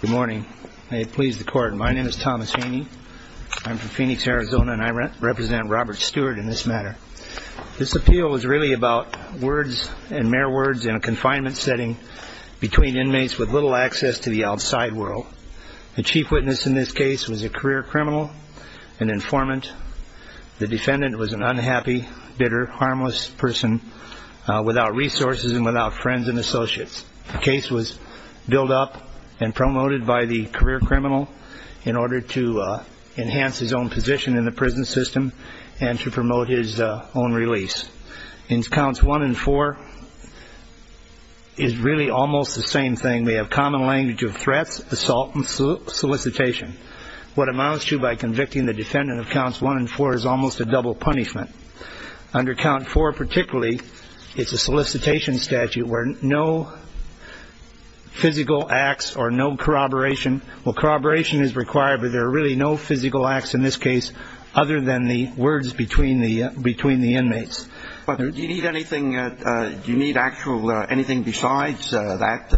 Good morning. May it please the court. My name is Thomas Haney. I'm from Phoenix, Arizona, and I represent Robert Stewart in this matter. This appeal is really about words and mere words in a confinement setting between inmates with little access to the outside world. The chief witness in this case was a career criminal, an informant. The defendant was an unhappy, bitter, harmless person without resources and without friends and associates. The case was built up and promoted by the career criminal in order to enhance his own position in the prison system and to promote his own release. In counts one and four, it's really almost the same thing. They have common language of threats, assault, and solicitation. What amounts to by convicting the defendant of counts one and four is almost a double punishment. Under count four particularly, it's a solicitation statute where no physical acts or no corroboration. Well, corroboration is required, but there are really no physical acts in this case other than the words between the inmates. Do you need anything besides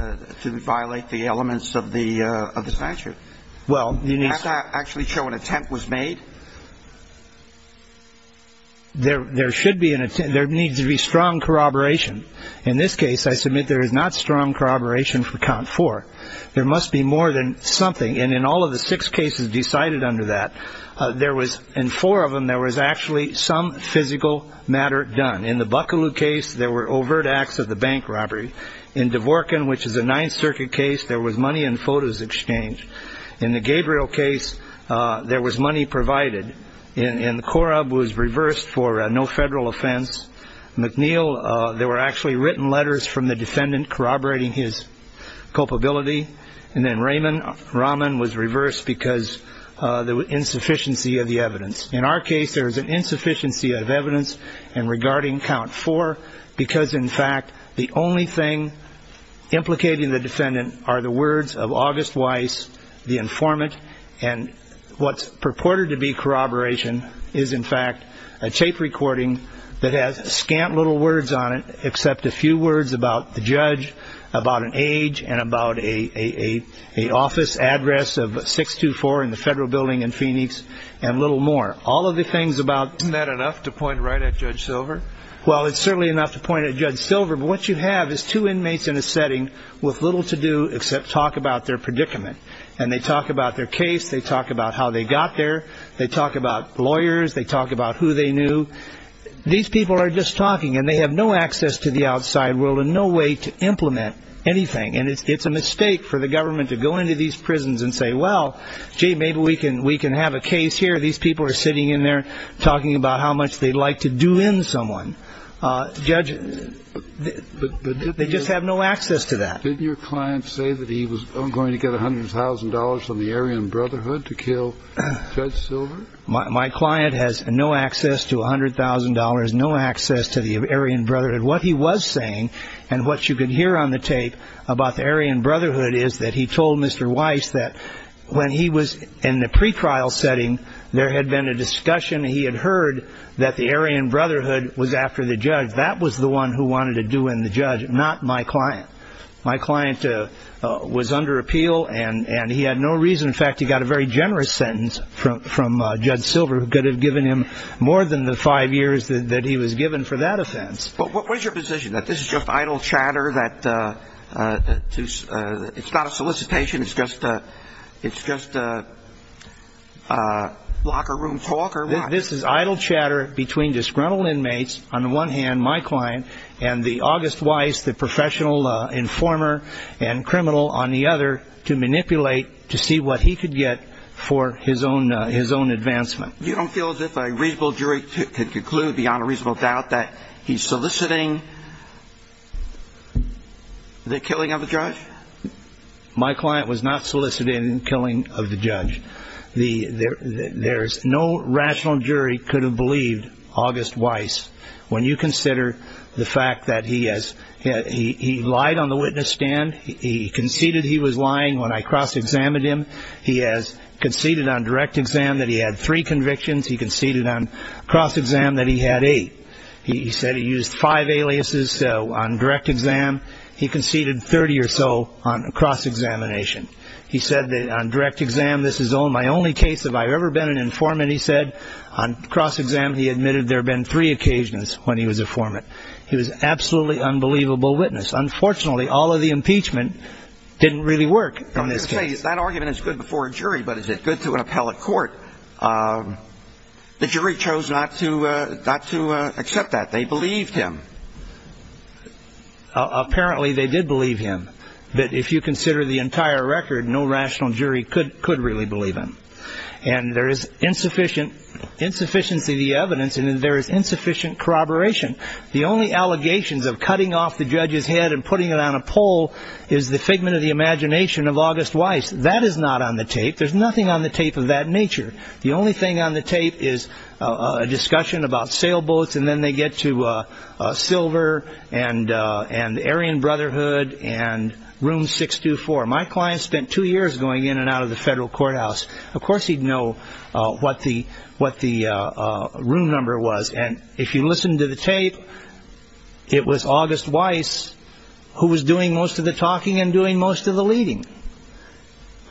that to violate the elements of the statute? Does that actually show an attempt was made? There should be an attempt. There needs to be strong corroboration. In this case, I submit there is not strong corroboration for count four. There must be more than something. And in all of the six cases decided under that, there was in four of them there was actually some physical matter done. In the Buckaloo case, there were overt acts of the bank robbery. In Dvorkin, which is a Ninth Circuit case, there was money in photos exchanged. In the Gabriel case, there was money provided. And Korob was reversed for no federal offense. McNeil, there were actually written letters from the defendant corroborating his culpability. And then Raymond Raman was reversed because of the insufficiency of the evidence. In our case, there is an insufficiency of evidence in regarding count four because, in fact, the only thing implicating the defendant are the words of August Weiss, the informant. And what's purported to be corroboration is, in fact, a tape recording that has scant little words on it except a few words about the judge, about an age, and about an office address of 624 in the federal building in Phoenix, and little more. All of the things about... Isn't that enough to point right at Judge Silver? Well, it's certainly enough to point at Judge Silver. But what you have is two inmates in a setting with little to do except talk about their predicament. And they talk about their case. They talk about how they got there. They talk about lawyers. They talk about who they knew. These people are just talking, and they have no access to the outside world and no way to implement anything. And it's a mistake for the government to go into these prisons and say, well, gee, maybe we can have a case here. These people are sitting in there talking about how much they'd like to do in someone. Judge, they just have no access to that. Didn't your client say that he was going to get $100,000 from the Aryan Brotherhood to kill Judge Silver? My client has no access to $100,000, no access to the Aryan Brotherhood. What he was saying, and what you can hear on the tape about the Aryan Brotherhood, is that he told Mr. Weiss that when he was in the pretrial setting, there had been a discussion. He had heard that the Aryan Brotherhood was after the judge. That was the one who wanted to do in the judge, not my client. My client was under appeal, and he had no reason. In fact, he got a very generous sentence from Judge Silver, who could have given him more than the five years that he was given for that offense. But what is your position, that this is just idle chatter, that it's not a solicitation, it's just locker room talk, or what? This is idle chatter between disgruntled inmates, on the one hand, my client, and the August Weiss, the professional informer and criminal, on the other, to manipulate to see what he could get for his own advancement. You don't feel as if a reasonable jury could conclude, beyond a reasonable doubt, that he's soliciting the killing of the judge? My client was not soliciting the killing of the judge. There is no rational jury could have believed August Weiss, when you consider the fact that he lied on the witness stand, he conceded he was lying when I cross-examined him, he has conceded on direct exam that he had three convictions, he conceded on cross-exam that he had eight. He said he used five aliases on direct exam. He conceded 30 or so on cross-examination. He said that on direct exam, this is my only case have I ever been an informant, he said. On cross-exam, he admitted there had been three occasions when he was an informant. He was an absolutely unbelievable witness. Unfortunately, all of the impeachment didn't really work on this case. That argument is good before a jury, but is it good to an appellate court? The jury chose not to accept that. They believed him. Apparently, they did believe him. But if you consider the entire record, no rational jury could really believe him. And there is insufficiency of the evidence, and there is insufficient corroboration. The only allegations of cutting off the judge's head and putting it on a pole is the figment of the imagination of August Weiss. That is not on the tape. There's nothing on the tape of that nature. The only thing on the tape is a discussion about sailboats, and then they get to Silver and the Aryan Brotherhood and Room 624. My client spent two years going in and out of the federal courthouse. Of course he'd know what the room number was. And if you listen to the tape, it was August Weiss who was doing most of the talking and doing most of the leading.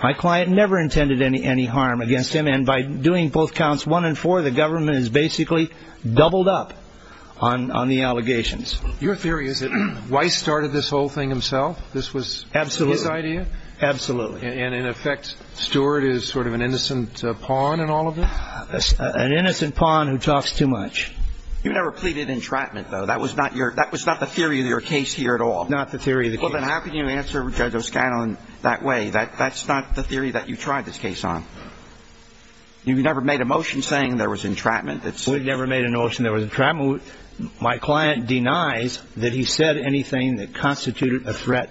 My client never intended any harm against him, and by doing both counts one and four, the government has basically doubled up on the allegations. Your theory is that Weiss started this whole thing himself? Absolutely. This was his idea? Absolutely. And in effect, Stewart is sort of an innocent pawn in all of this? An innocent pawn who talks too much. You never pleaded entrapment, though? That was not the theory of your case here at all? Not the theory of the case. Well, then how can you answer Judge O'Scanlan that way? That's not the theory that you tried this case on. You never made a motion saying there was entrapment? We never made a notion there was entrapment. My client denies that he said anything that constituted a threat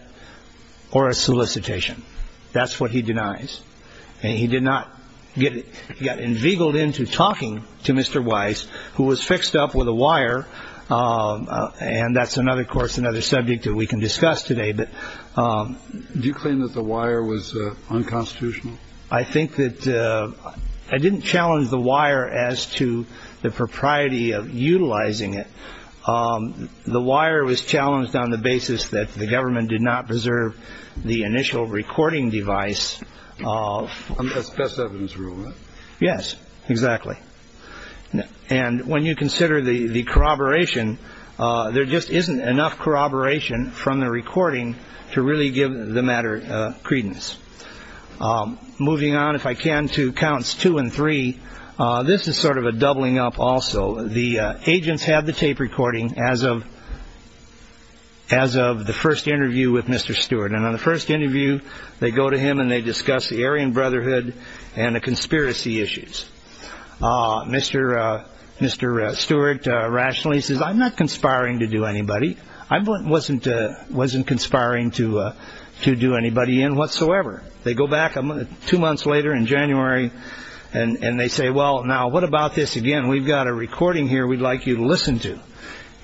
or a solicitation. That's what he denies. He did not get it. He got inveigled into talking to Mr. Weiss, who was fixed up with a wire, and that's, of course, another subject that we can discuss today. Do you claim that the wire was unconstitutional? I think that I didn't challenge the wire as to the propriety of utilizing it. The wire was challenged on the basis that the government did not preserve the initial recording device. That's best evidence rule, right? Yes, exactly. And when you consider the corroboration, there just isn't enough corroboration from the recording to really give the matter credence. Moving on, if I can, to counts two and three. This is sort of a doubling up also. The agents have the tape recording as of the first interview with Mr. Stewart. And on the first interview, they go to him and they discuss the Aryan Brotherhood and the conspiracy issues. Mr. Stewart rationally says, I'm not conspiring to do anybody. I wasn't conspiring to do anybody in whatsoever. They go back two months later in January, and they say, well, now what about this again? We've got a recording here we'd like you to listen to.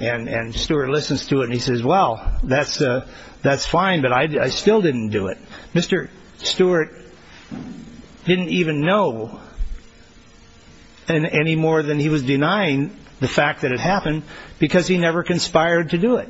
And Stewart listens to it and he says, well, that's fine, but I still didn't do it. Mr. Stewart didn't even know any more than he was denying the fact that it happened because he never conspired to do it.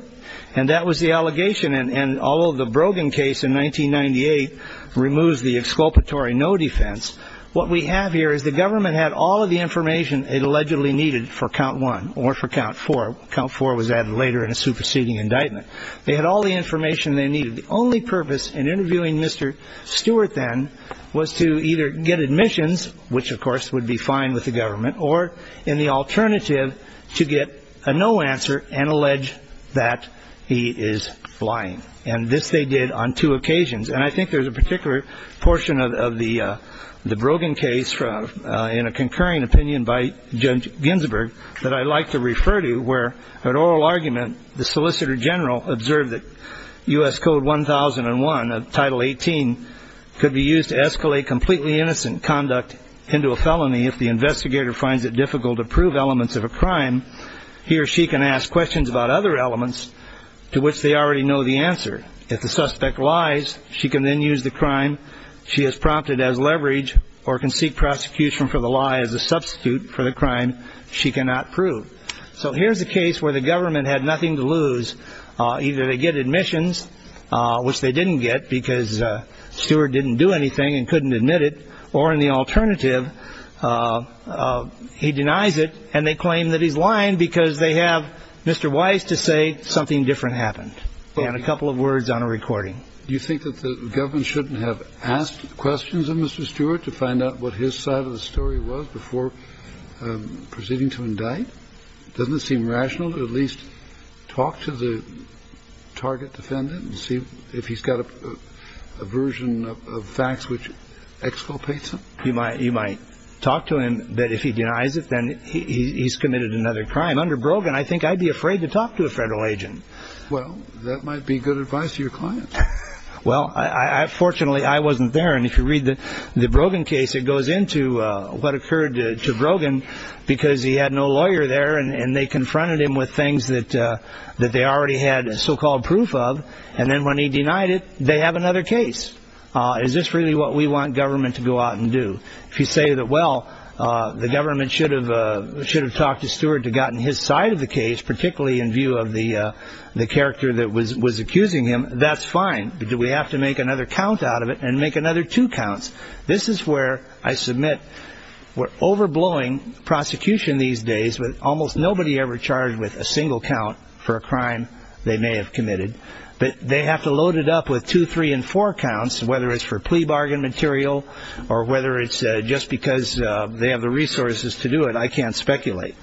And that was the allegation. And although the Brogan case in 1998 removes the exculpatory no defense, what we have here is the government had all of the information it allegedly needed for count one or for count four. Count four was added later in a superseding indictment. They had all the information they needed. The only purpose in interviewing Mr. Stewart then was to either get admissions, which of course would be fine with the government, or in the alternative to get a no answer and allege that he is lying. And this they did on two occasions. And I think there's a particular portion of the Brogan case in a concurring opinion by Judge Ginsburg that I'd like to refer to, where an oral argument, the solicitor general observed that U.S. Code 1001 of Title 18 could be used to escalate completely innocent conduct into a felony. If the investigator finds it difficult to prove elements of a crime, he or she can ask questions about other elements to which they already know the answer. If the suspect lies, she can then use the crime she has prompted as leverage or can seek prosecution for the lie as a substitute for the crime she cannot prove. So here's a case where the government had nothing to lose. Either they get admissions, which they didn't get because Stewart didn't do anything and couldn't admit it, or in the alternative he denies it and they claim that he's lying because they have Mr. And a couple of words on a recording. Do you think that the government shouldn't have asked questions of Mr. Stewart to find out what his side of the story was before proceeding to indict? Doesn't it seem rational to at least talk to the target defendant and see if he's got a version of facts which exculpates him? You might talk to him, but if he denies it, then he's committed another crime. Under Brogan, I think I'd be afraid to talk to a federal agent. Well, that might be good advice to your client. Well, fortunately, I wasn't there. And if you read the Brogan case, it goes into what occurred to Brogan because he had no lawyer there and they confronted him with things that they already had so-called proof of. And then when he denied it, they have another case. Is this really what we want government to go out and do? If you say that, well, the government should have talked to Stewart to have gotten his side of the case, particularly in view of the character that was accusing him, that's fine. But do we have to make another count out of it and make another two counts? This is where I submit we're overblowing prosecution these days with almost nobody ever charged with a single count for a crime they may have committed. But they have to load it up with two, three, and four counts, whether it's for plea bargain material or whether it's just because they have the resources to do it. I can't speculate.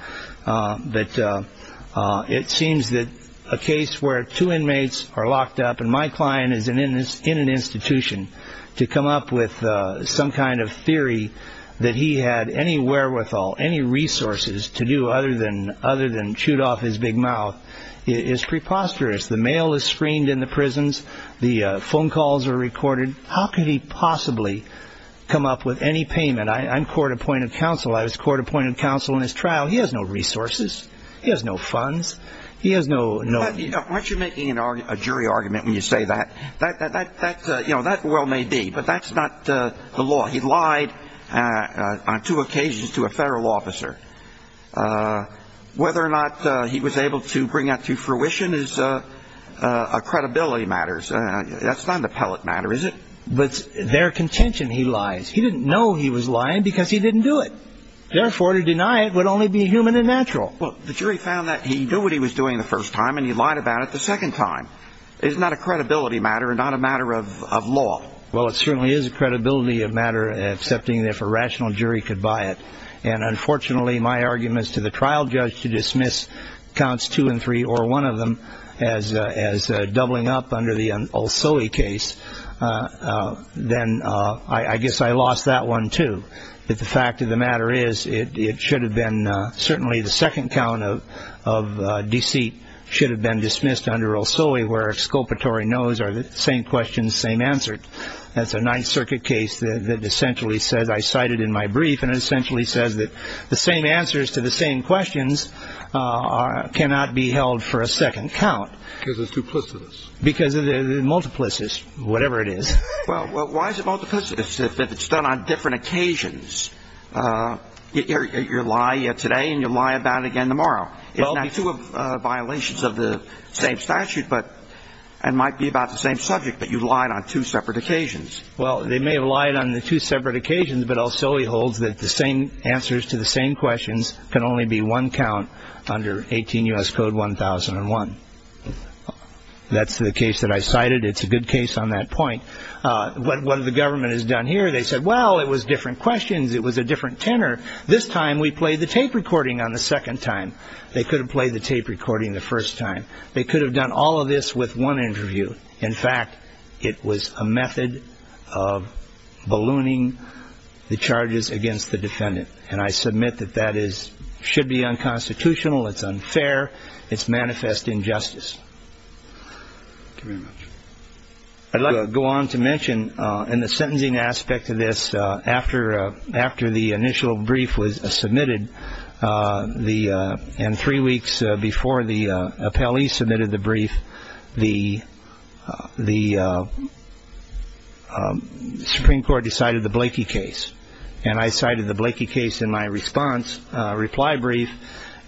But it seems that a case where two inmates are locked up and my client is in an institution to come up with some kind of theory that he had any wherewithal, any resources to do other than shoot off his big mouth is preposterous. The mail is screened in the prisons. The phone calls are recorded. How could he possibly come up with any payment? I'm court-appointed counsel. I was court-appointed counsel in his trial. He has no resources. He has no funds. He has no... Why aren't you making a jury argument when you say that? That well may be, but that's not the law. He lied on two occasions to a federal officer. Whether or not he was able to bring that to fruition is a credibility matter. That's not an appellate matter, is it? But it's their contention he lies. He didn't know he was lying because he didn't do it. Therefore, to deny it would only be human and natural. Well, the jury found that he knew what he was doing the first time, and he lied about it the second time. It's not a credibility matter. It's not a matter of law. Well, it certainly is a credibility matter, excepting if a rational jury could buy it. And unfortunately, my arguments to the trial judge to dismiss counts two and three, or one of them, as doubling up under the Olsoe case, then I guess I lost that one, too. But the fact of the matter is it should have been certainly the second count of deceit should have been dismissed under Olsoe, where exculpatory no's are the same question, same answer. That's a Ninth Circuit case that essentially says, I cite it in my brief, and it essentially says that the same answers to the same questions cannot be held for a second count. Because it's duplicitous. Because it's multiplicitous, whatever it is. Well, why is it multiplicitous if it's done on different occasions? You lie today and you lie about it again tomorrow. It's not two violations of the same statute, but it might be about the same subject, but you lied on two separate occasions. Well, they may have lied on the two separate occasions, but Olsoe holds that the same answers to the same questions can only be one count under 18 U.S. Code 1001. That's the case that I cited. It's a good case on that point. What the government has done here, they said, well, it was different questions. It was a different tenor. This time we played the tape recording on the second time. They could have played the tape recording the first time. They could have done all of this with one interview. In fact, it was a method of ballooning the charges against the defendant. And I submit that that should be unconstitutional. It's unfair. It's manifest injustice. I'd like to go on to mention in the sentencing aspect of this. After after the initial brief was submitted, the three weeks before the appellee submitted the brief, the the Supreme Court decided the Blakey case. And I cited the Blakey case in my response reply brief.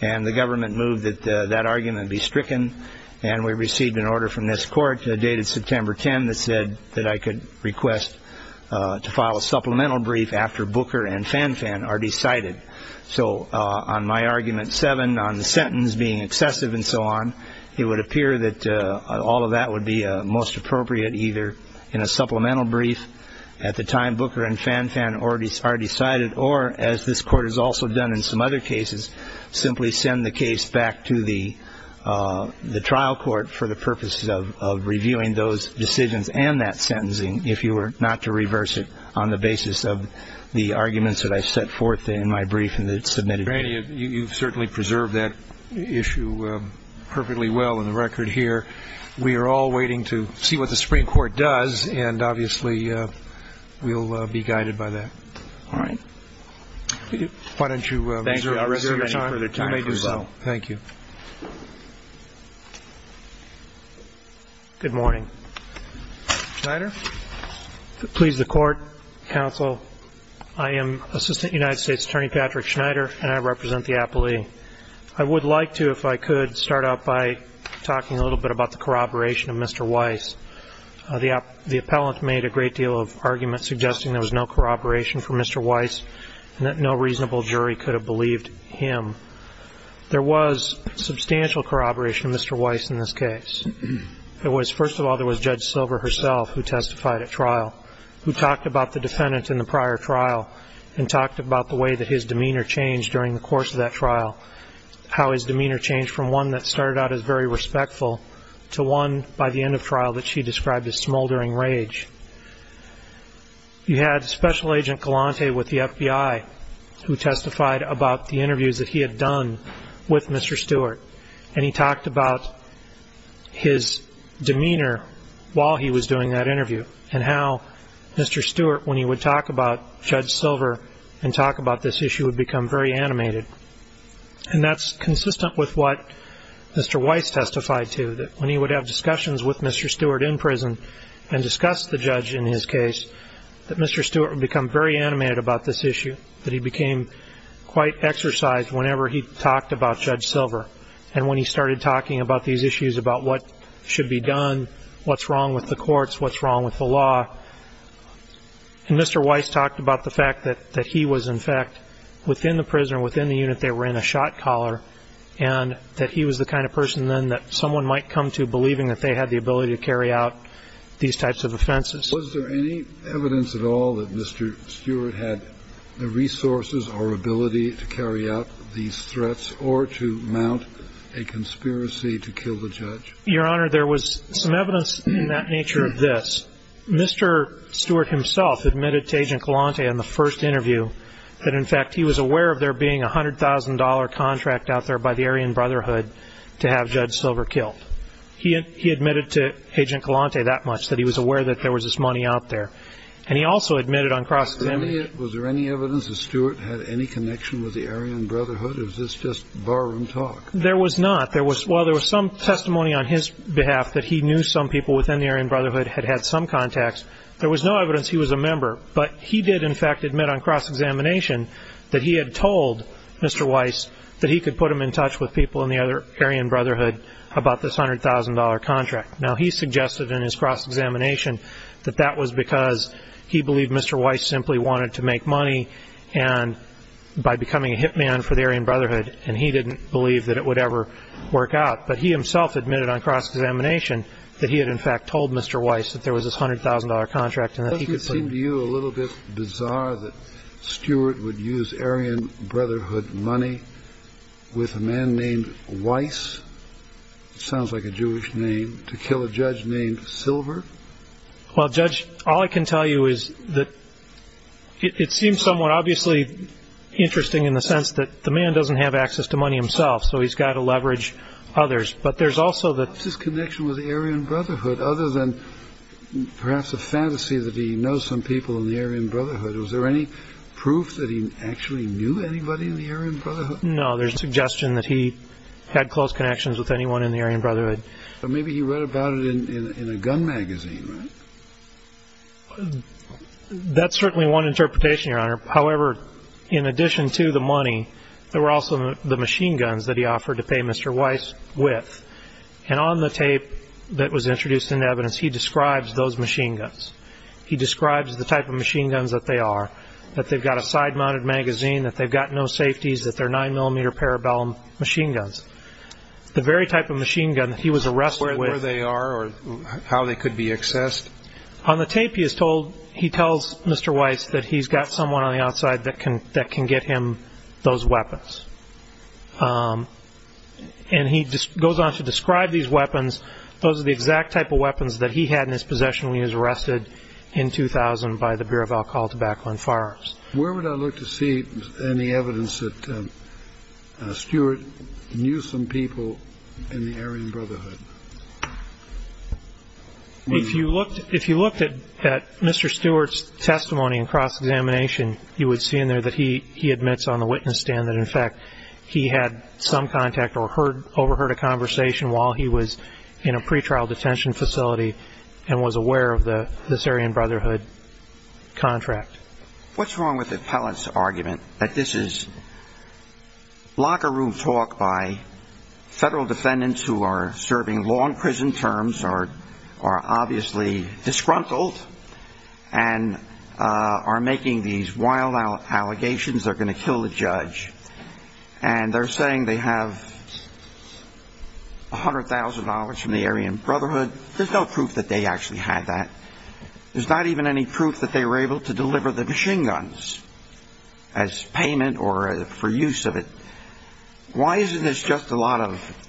And the government moved that that argument be stricken. And we received an order from this court dated September 10 that said that I could request to file a supplemental brief after Booker and Fan Fan are decided. So on my argument, seven on the sentence being excessive and so on, it would appear that all of that would be most appropriate either in a supplemental brief at the time Booker and Fan Fan already are decided, or as this court has also done in some other cases, simply send the case back to the the trial court for the purposes of reviewing those decisions and that sentencing. If you were not to reverse it on the basis of the arguments that I set forth in my brief and that submitted. You certainly preserve that issue perfectly well in the record here. We are all waiting to see what the Supreme Court does. And obviously we'll be guided by that. All right. Why don't you. Thank you. Thank you. Good morning. Please the court counsel. I am Assistant United States Attorney Patrick Schneider and I represent the appellee. I would like to if I could start out by talking a little bit about the corroboration of Mr. Weiss. The appellant made a great deal of argument suggesting there was no corroboration for Mr. Weiss and that no reasonable jury could have believed him. There was substantial corroboration of Mr. Weiss in this case. It was first of all, there was Judge Silver herself who testified at trial, who talked about the defendant in the prior trial and talked about the way that his demeanor changed during the course of that trial. How his demeanor changed from one that started out as very respectful to one by the end of trial that she described as smoldering rage. You had Special Agent Galante with the FBI who testified about the interviews that he had done with Mr. Stewart and he talked about his demeanor while he was doing that interview and how Mr. Stewart and Judge Silver and talk about this issue would become very animated. And that's consistent with what Mr. Weiss testified to that when he would have discussions with Mr. Stewart in prison and discuss the judge in his case, that Mr. Stewart would become very animated about this issue, that he became quite exercised whenever he talked about Judge Silver. And when he started talking about these issues about what should be done, what's wrong with the courts, what's wrong with the law, and Mr. Weiss talked about the fact that he was, in fact, within the prison, within the unit, they were in a shot collar, and that he was the kind of person then that someone might come to believing that they had the ability to carry out these types of offenses. Was there any evidence at all that Mr. Stewart had the resources or ability to carry out these threats or to mount a conspiracy to kill the judge? Your Honor, there was some evidence in that nature of this. Mr. Stewart himself admitted to Agent Kalante in the first interview that, in fact, he was aware of there being a $100,000 contract out there by the Aryan Brotherhood to have Judge Silver killed. He admitted to Agent Kalante that much, that he was aware that there was this money out there, and he also admitted on cross-examination. Was there any evidence that Stewart had any connection with the Aryan Brotherhood, or was this just barroom talk? There was not. While there was some testimony on his behalf that he knew some people within the Aryan Brotherhood had had some contacts, there was no evidence he was a member. But he did, in fact, admit on cross-examination that he had told Mr. Weiss that he could put him in touch with people in the Aryan Brotherhood about this $100,000 contract. Now, he suggested in his cross-examination that that was because he believed Mr. Weiss simply wanted to make money by becoming a hit man for the Aryan Brotherhood, and he didn't believe that it would ever work out. But he himself admitted on cross-examination that he had, in fact, told Mr. Weiss that there was this $100,000 contract. Doesn't it seem to you a little bit bizarre that Stewart would use Aryan Brotherhood money with a man named Weiss? It sounds like a Jewish name. To kill a judge named Silver? Well, Judge, all I can tell you is that it seems somewhat obviously interesting in the sense that the man doesn't have access to money himself, so he's got to leverage others. But there's also the What's his connection with the Aryan Brotherhood, other than perhaps a fantasy that he knows some people in the Aryan Brotherhood? Was there any proof that he actually knew anybody in the Aryan Brotherhood? No. There's no suggestion that he had close connections with anyone in the Aryan Brotherhood. But maybe he read about it in a gun magazine, right? That's certainly one interpretation, Your Honor. However, in addition to the money, there were also the machine guns that he offered to pay Mr. Weiss with. And on the tape that was introduced into evidence, he describes those machine guns. He describes the type of machine guns that they are, that they've got a side-mounted magazine, that they've got no safeties, that they're 9mm Parabellum machine guns. The very type of machine gun that he was arrested with Where they are or how they could be accessed? On the tape, he tells Mr. Weiss that he's got someone on the outside that can get him those weapons. And he goes on to describe these weapons. Those are the exact type of weapons that he had in his possession when he was arrested in 2000 by the Bureau of Alcohol, Tobacco, and Firearms. Where would I look to see any evidence that Stuart knew some people in the Aryan Brotherhood? If you looked at Mr. Stuart's testimony in cross-examination, you would see in there that he admits on the witness stand that, in fact, he had some contact or overheard a conversation while he was in a pretrial detention facility and was aware of the Aryan Brotherhood contract. What's wrong with the appellant's argument that this is locker room talk by federal defendants who are serving long prison terms, are obviously disgruntled, and are making these wild allegations they're going to kill the judge. And they're saying they have $100,000 from the Aryan Brotherhood. There's no proof that they actually had that. There's not even any proof that they were able to deliver the machine guns as payment or for use of it. Why isn't this just a lot of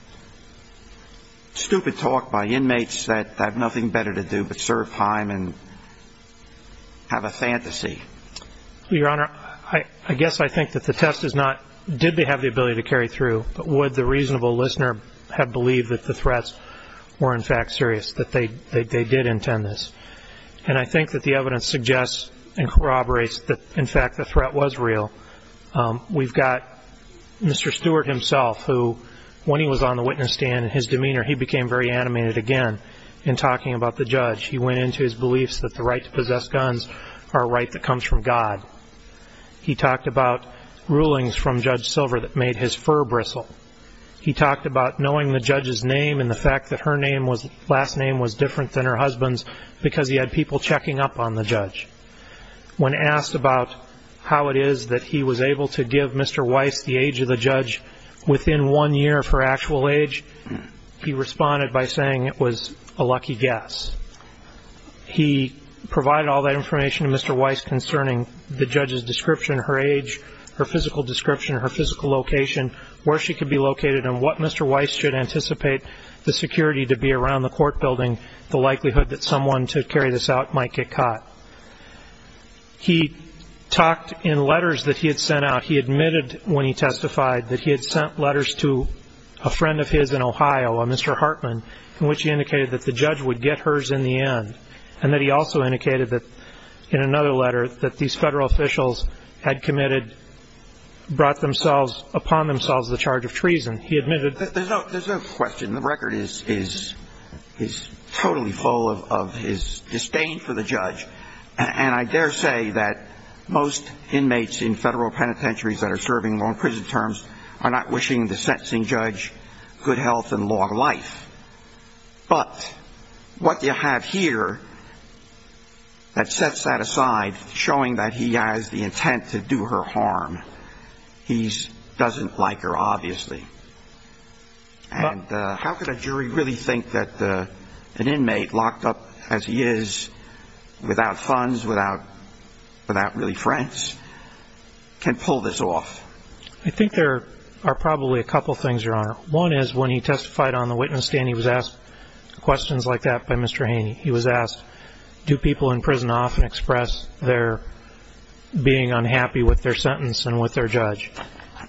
stupid talk by inmates that have nothing better to do but serve time and have a fantasy? Your Honor, I guess I think that the test is not did they have the ability to carry through, but would the reasonable listener have believed that the threats were, in fact, serious, that they did intend this. And I think that the evidence suggests and corroborates that, in fact, the threat was real. We've got Mr. Stewart himself who, when he was on the witness stand, in his demeanor he became very animated again in talking about the judge. He went into his beliefs that the right to possess guns are a right that comes from God. He talked about rulings from Judge Silver that made his fur bristle. He talked about knowing the judge's name and the fact that her last name was different than her husband's because he had people checking up on the judge. When asked about how it is that he was able to give Mr. Weiss the age of the judge within one year of her actual age, he responded by saying it was a lucky guess. He provided all that information to Mr. Weiss concerning the judge's description, her age, her physical description, her physical location, where she could be located and what Mr. Weiss should anticipate the security to be around the court building, the likelihood that someone to carry this out might get caught. He talked in letters that he had sent out. He admitted when he testified that he had sent letters to a friend of his in Ohio, a Mr. Hartman, in which he indicated that the judge would get hers in the end and that he also indicated that, in another letter, that these federal officials had committed, brought upon themselves the charge of treason. He admitted... There's no question. The record is totally full of his disdain for the judge, and I dare say that most inmates in federal penitentiaries that are serving long prison terms are not wishing the sentencing judge good health and long life. But what you have here that sets that aside, showing that he has the intent to do her harm, he doesn't like her, obviously. And how could a jury really think that an inmate locked up as he is, without funds, without really friends, can pull this off? I think there are probably a couple of things, Your Honor. One is when he testified on the witness stand, he was asked questions like that by Mr. Haney. He was asked, do people in prison often express their being unhappy with their sentence and with their judge?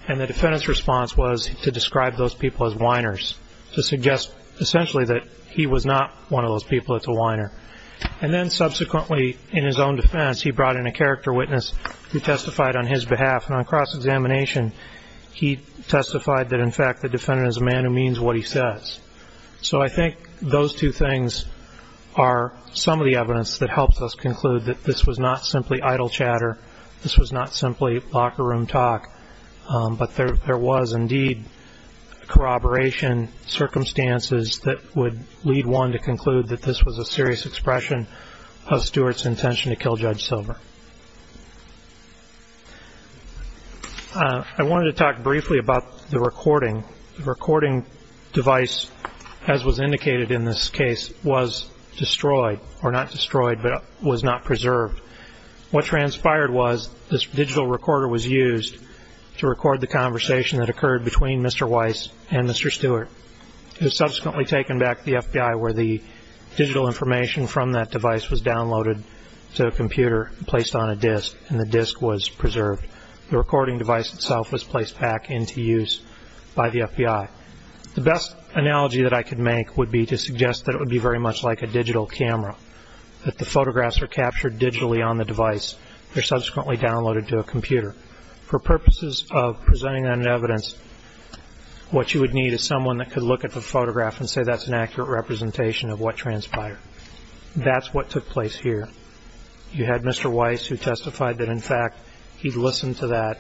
And the defendant's response was to describe those people as whiners, to suggest essentially that he was not one of those people that's a whiner. And then subsequently, in his own defense, he brought in a character witness who testified on his behalf, and on cross-examination he testified that, in fact, the defendant is a man who means what he says. So I think those two things are some of the evidence that helps us conclude that this was not simply idle chatter, this was not simply locker room talk, but there was indeed corroboration circumstances that would lead one to conclude that this was a serious expression of Stewart's intention to kill Judge Silver. I wanted to talk briefly about the recording. The recording device, as was indicated in this case, was destroyed, or not destroyed, but was not preserved. What transpired was this digital recorder was used to record the conversation that occurred between Mr. Weiss and Mr. Stewart. It was subsequently taken back to the FBI, where the digital information from that device was downloaded to a computer and placed on a disc, and the disc was preserved. The recording device itself was placed back into use by the FBI. The best analogy that I could make would be to suggest that it would be very much like a digital camera, that the photographs were captured digitally on the device. They're subsequently downloaded to a computer. For purposes of presenting that evidence, what you would need is someone that could look at the photograph and say that's an accurate representation of what transpired. That's what took place here. You had Mr. Weiss who testified that, in fact, he'd listened to that.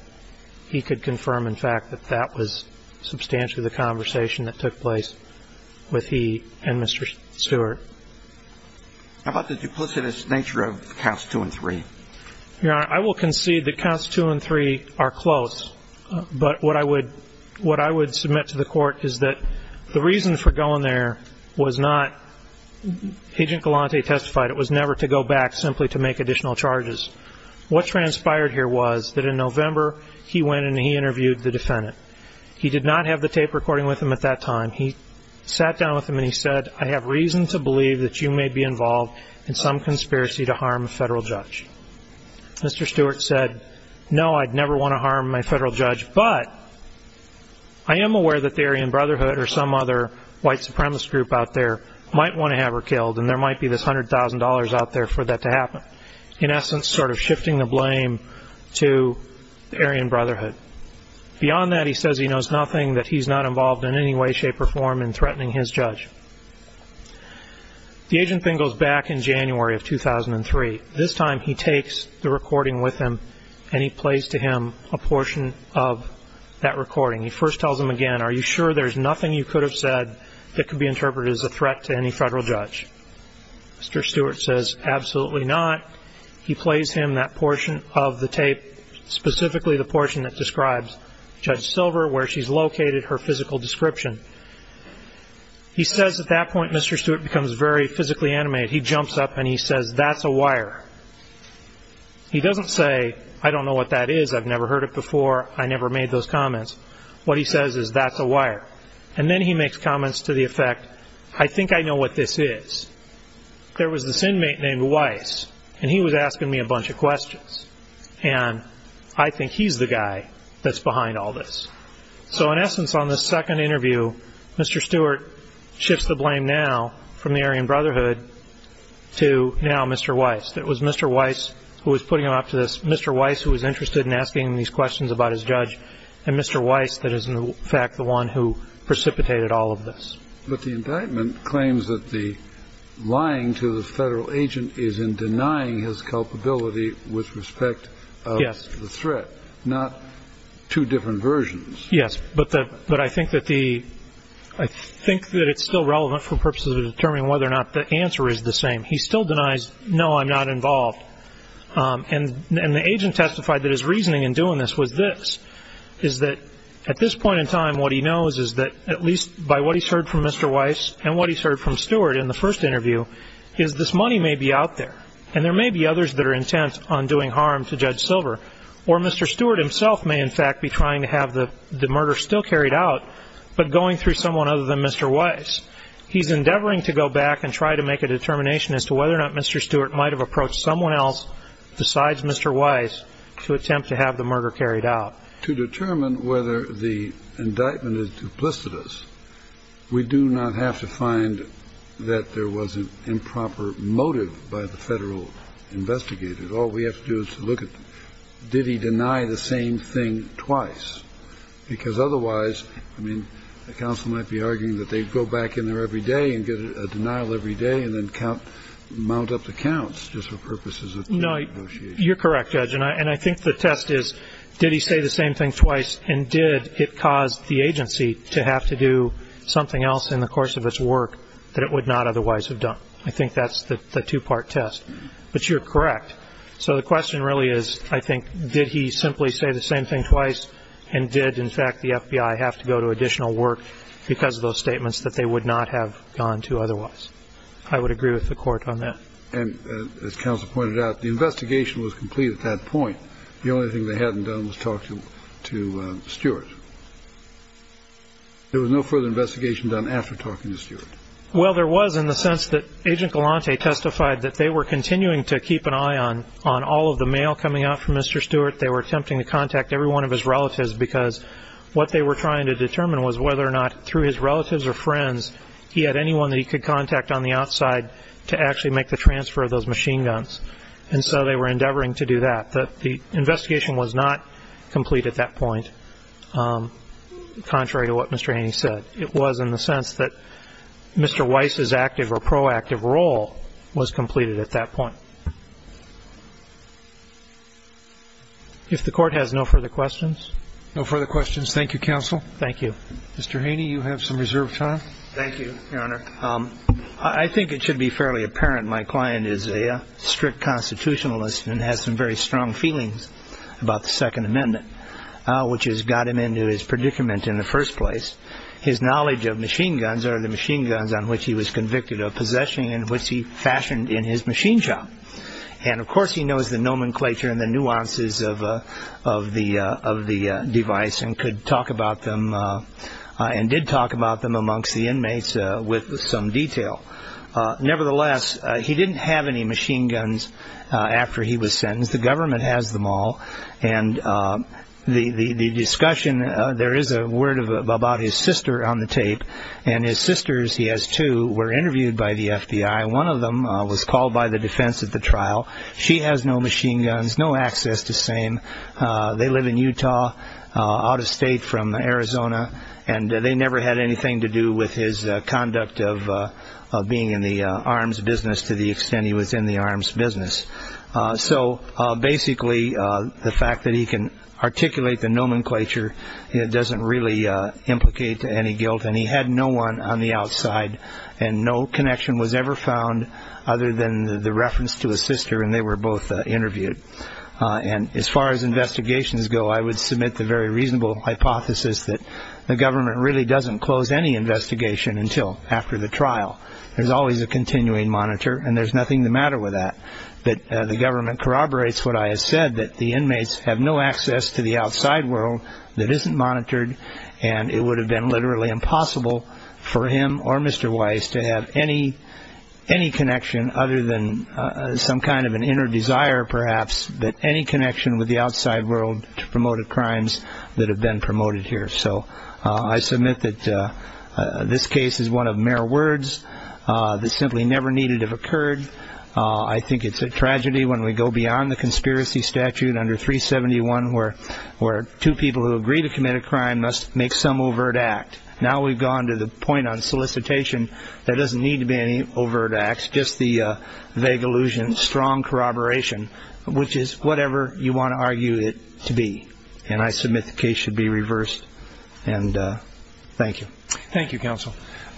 He could confirm, in fact, that that was substantially the conversation that took place with he and Mr. Stewart. How about the duplicitous nature of counts two and three? Your Honor, I will concede that counts two and three are close, but what I would submit to the Court is that the reason for going there was not, Agent Galante testified it was never to go back simply to make additional charges. What transpired here was that in November he went and he interviewed the defendant. He did not have the tape recording with him at that time. He sat down with him and he said, I have reason to believe that you may be involved in some conspiracy to harm a federal judge. Mr. Stewart said, no, I'd never want to harm my federal judge, but I am aware that the Aryan Brotherhood or some other white supremacist group out there might want to have her killed and there might be this $100,000 out there for that to happen. In essence, sort of shifting the blame to the Aryan Brotherhood. Beyond that, he says he knows nothing, that he's not involved in any way, shape or form in threatening his judge. The agent then goes back in January of 2003. This time he takes the recording with him and he plays to him a portion of that recording. He first tells him again, are you sure there's nothing you could have said that could be interpreted as a threat to any federal judge? Mr. Stewart says, absolutely not. He plays him that portion of the tape, specifically the portion that describes Judge Silver, where she's located her physical description. He says at that point, Mr. Stewart becomes very physically animated. He jumps up and he says, that's a wire. He doesn't say, I don't know what that is. I've never heard it before. I never made those comments. What he says is that's a wire. And then he makes comments to the effect, I think I know what this is. There was this inmate named Weiss, and he was asking me a bunch of questions. And I think he's the guy that's behind all this. So in essence, on this second interview, Mr. Stewart shifts the blame now from the Aryan Brotherhood to now Mr. Weiss. It was Mr. Weiss who was putting him up to this, Mr. Weiss who was interested in asking him these questions about his judge, and Mr. Weiss that is, in fact, the one who precipitated all of this. But the indictment claims that the lying to the federal agent is in denying his culpability with respect to the threat, not two different versions. Yes, but I think that it's still relevant for purposes of determining whether or not the answer is the same. He still denies, no, I'm not involved. And the agent testified that his reasoning in doing this was this, is that at this point in time what he knows is that at least by what he's heard from Mr. Weiss and what he's heard from Stewart in the first interview is this money may be out there, and there may be others that are intent on doing harm to Judge Silver. Or Mr. Stewart himself may, in fact, be trying to have the murder still carried out, but going through someone other than Mr. Weiss. He's endeavoring to go back and try to make a determination as to whether or not Mr. Stewart might have approached someone else besides Mr. Weiss to attempt to have the murder carried out. To determine whether the indictment is duplicitous, we do not have to find that there was an improper motive by the federal investigator. All we have to do is look at did he deny the same thing twice, because otherwise the counsel might be arguing that they go back in there every day and get a denial every day and then mount up the counts just for purposes of negotiation. No, you're correct, Judge. And I think the test is did he say the same thing twice and did it cause the agency to have to do something else in the course of its work that it would not otherwise have done. I think that's the two-part test. But you're correct. So the question really is, I think, did he simply say the same thing twice and did, in fact, the FBI have to go to additional work because of those statements that they would not have gone to otherwise. I would agree with the court on that. And as counsel pointed out, the investigation was complete at that point. The only thing they hadn't done was talk to Stewart. There was no further investigation done after talking to Stewart. Well, there was in the sense that Agent Galante testified that they were continuing to keep an eye on all of the mail coming out from Mr. Stewart. They were attempting to contact every one of his relatives because what they were trying to determine was whether or not, through his relatives or friends, he had anyone that he could contact on the outside to actually make the transfer of those machine guns. And so they were endeavoring to do that. The investigation was not complete at that point, contrary to what Mr. Haney said. It was in the sense that Mr. Weiss's active or proactive role was completed at that point. If the court has no further questions. No further questions. Thank you, counsel. Thank you. Mr. Haney, you have some reserved time. Thank you, Your Honor. I think it should be fairly apparent my client is a strict constitutionalist and has some very strong feelings about the Second Amendment, which has got him into his predicament in the first place. His knowledge of machine guns or the machine guns on which he was convicted of possessing and which he fashioned in his machine shop. And, of course, he knows the nomenclature and the nuances of the device and could talk about them and did talk about them amongst the inmates with some detail. Nevertheless, he didn't have any machine guns after he was sentenced. The government has them all. And the discussion, there is a word about his sister on the tape, and his sisters, he has two, were interviewed by the FBI. One of them was called by the defense at the trial. She has no machine guns, no access to same. They live in Utah, out of state from Arizona, and they never had anything to do with his conduct of being in the arms business to the extent he was in the arms business. So, basically, the fact that he can articulate the nomenclature doesn't really implicate any guilt. And he had no one on the outside, and no connection was ever found other than the reference to his sister, and they were both interviewed. And as far as investigations go, I would submit the very reasonable hypothesis that the government really doesn't close any investigation until after the trial. There's always a continuing monitor, and there's nothing the matter with that. But the government corroborates what I have said, that the inmates have no access to the outside world that isn't monitored, and it would have been literally impossible for him or Mr. Weiss to have any connection other than some kind of an inner desire, perhaps, but any connection with the outside world to promote a crimes that have been promoted here. So, I submit that this case is one of mere words that simply never needed to have occurred. I think it's a tragedy when we go beyond the conspiracy statute under 371, where two people who agree to commit a crime must make some overt act. Now we've gone to the point on solicitation. There doesn't need to be any overt acts, just the vague illusion, strong corroboration, which is whatever you want to argue it to be. And I submit the case should be reversed. And thank you. Thank you, counsel.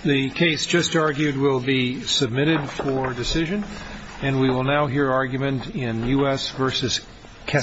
The case just argued will be submitted for decision, and we will now hear argument in U.S. v. Kessler.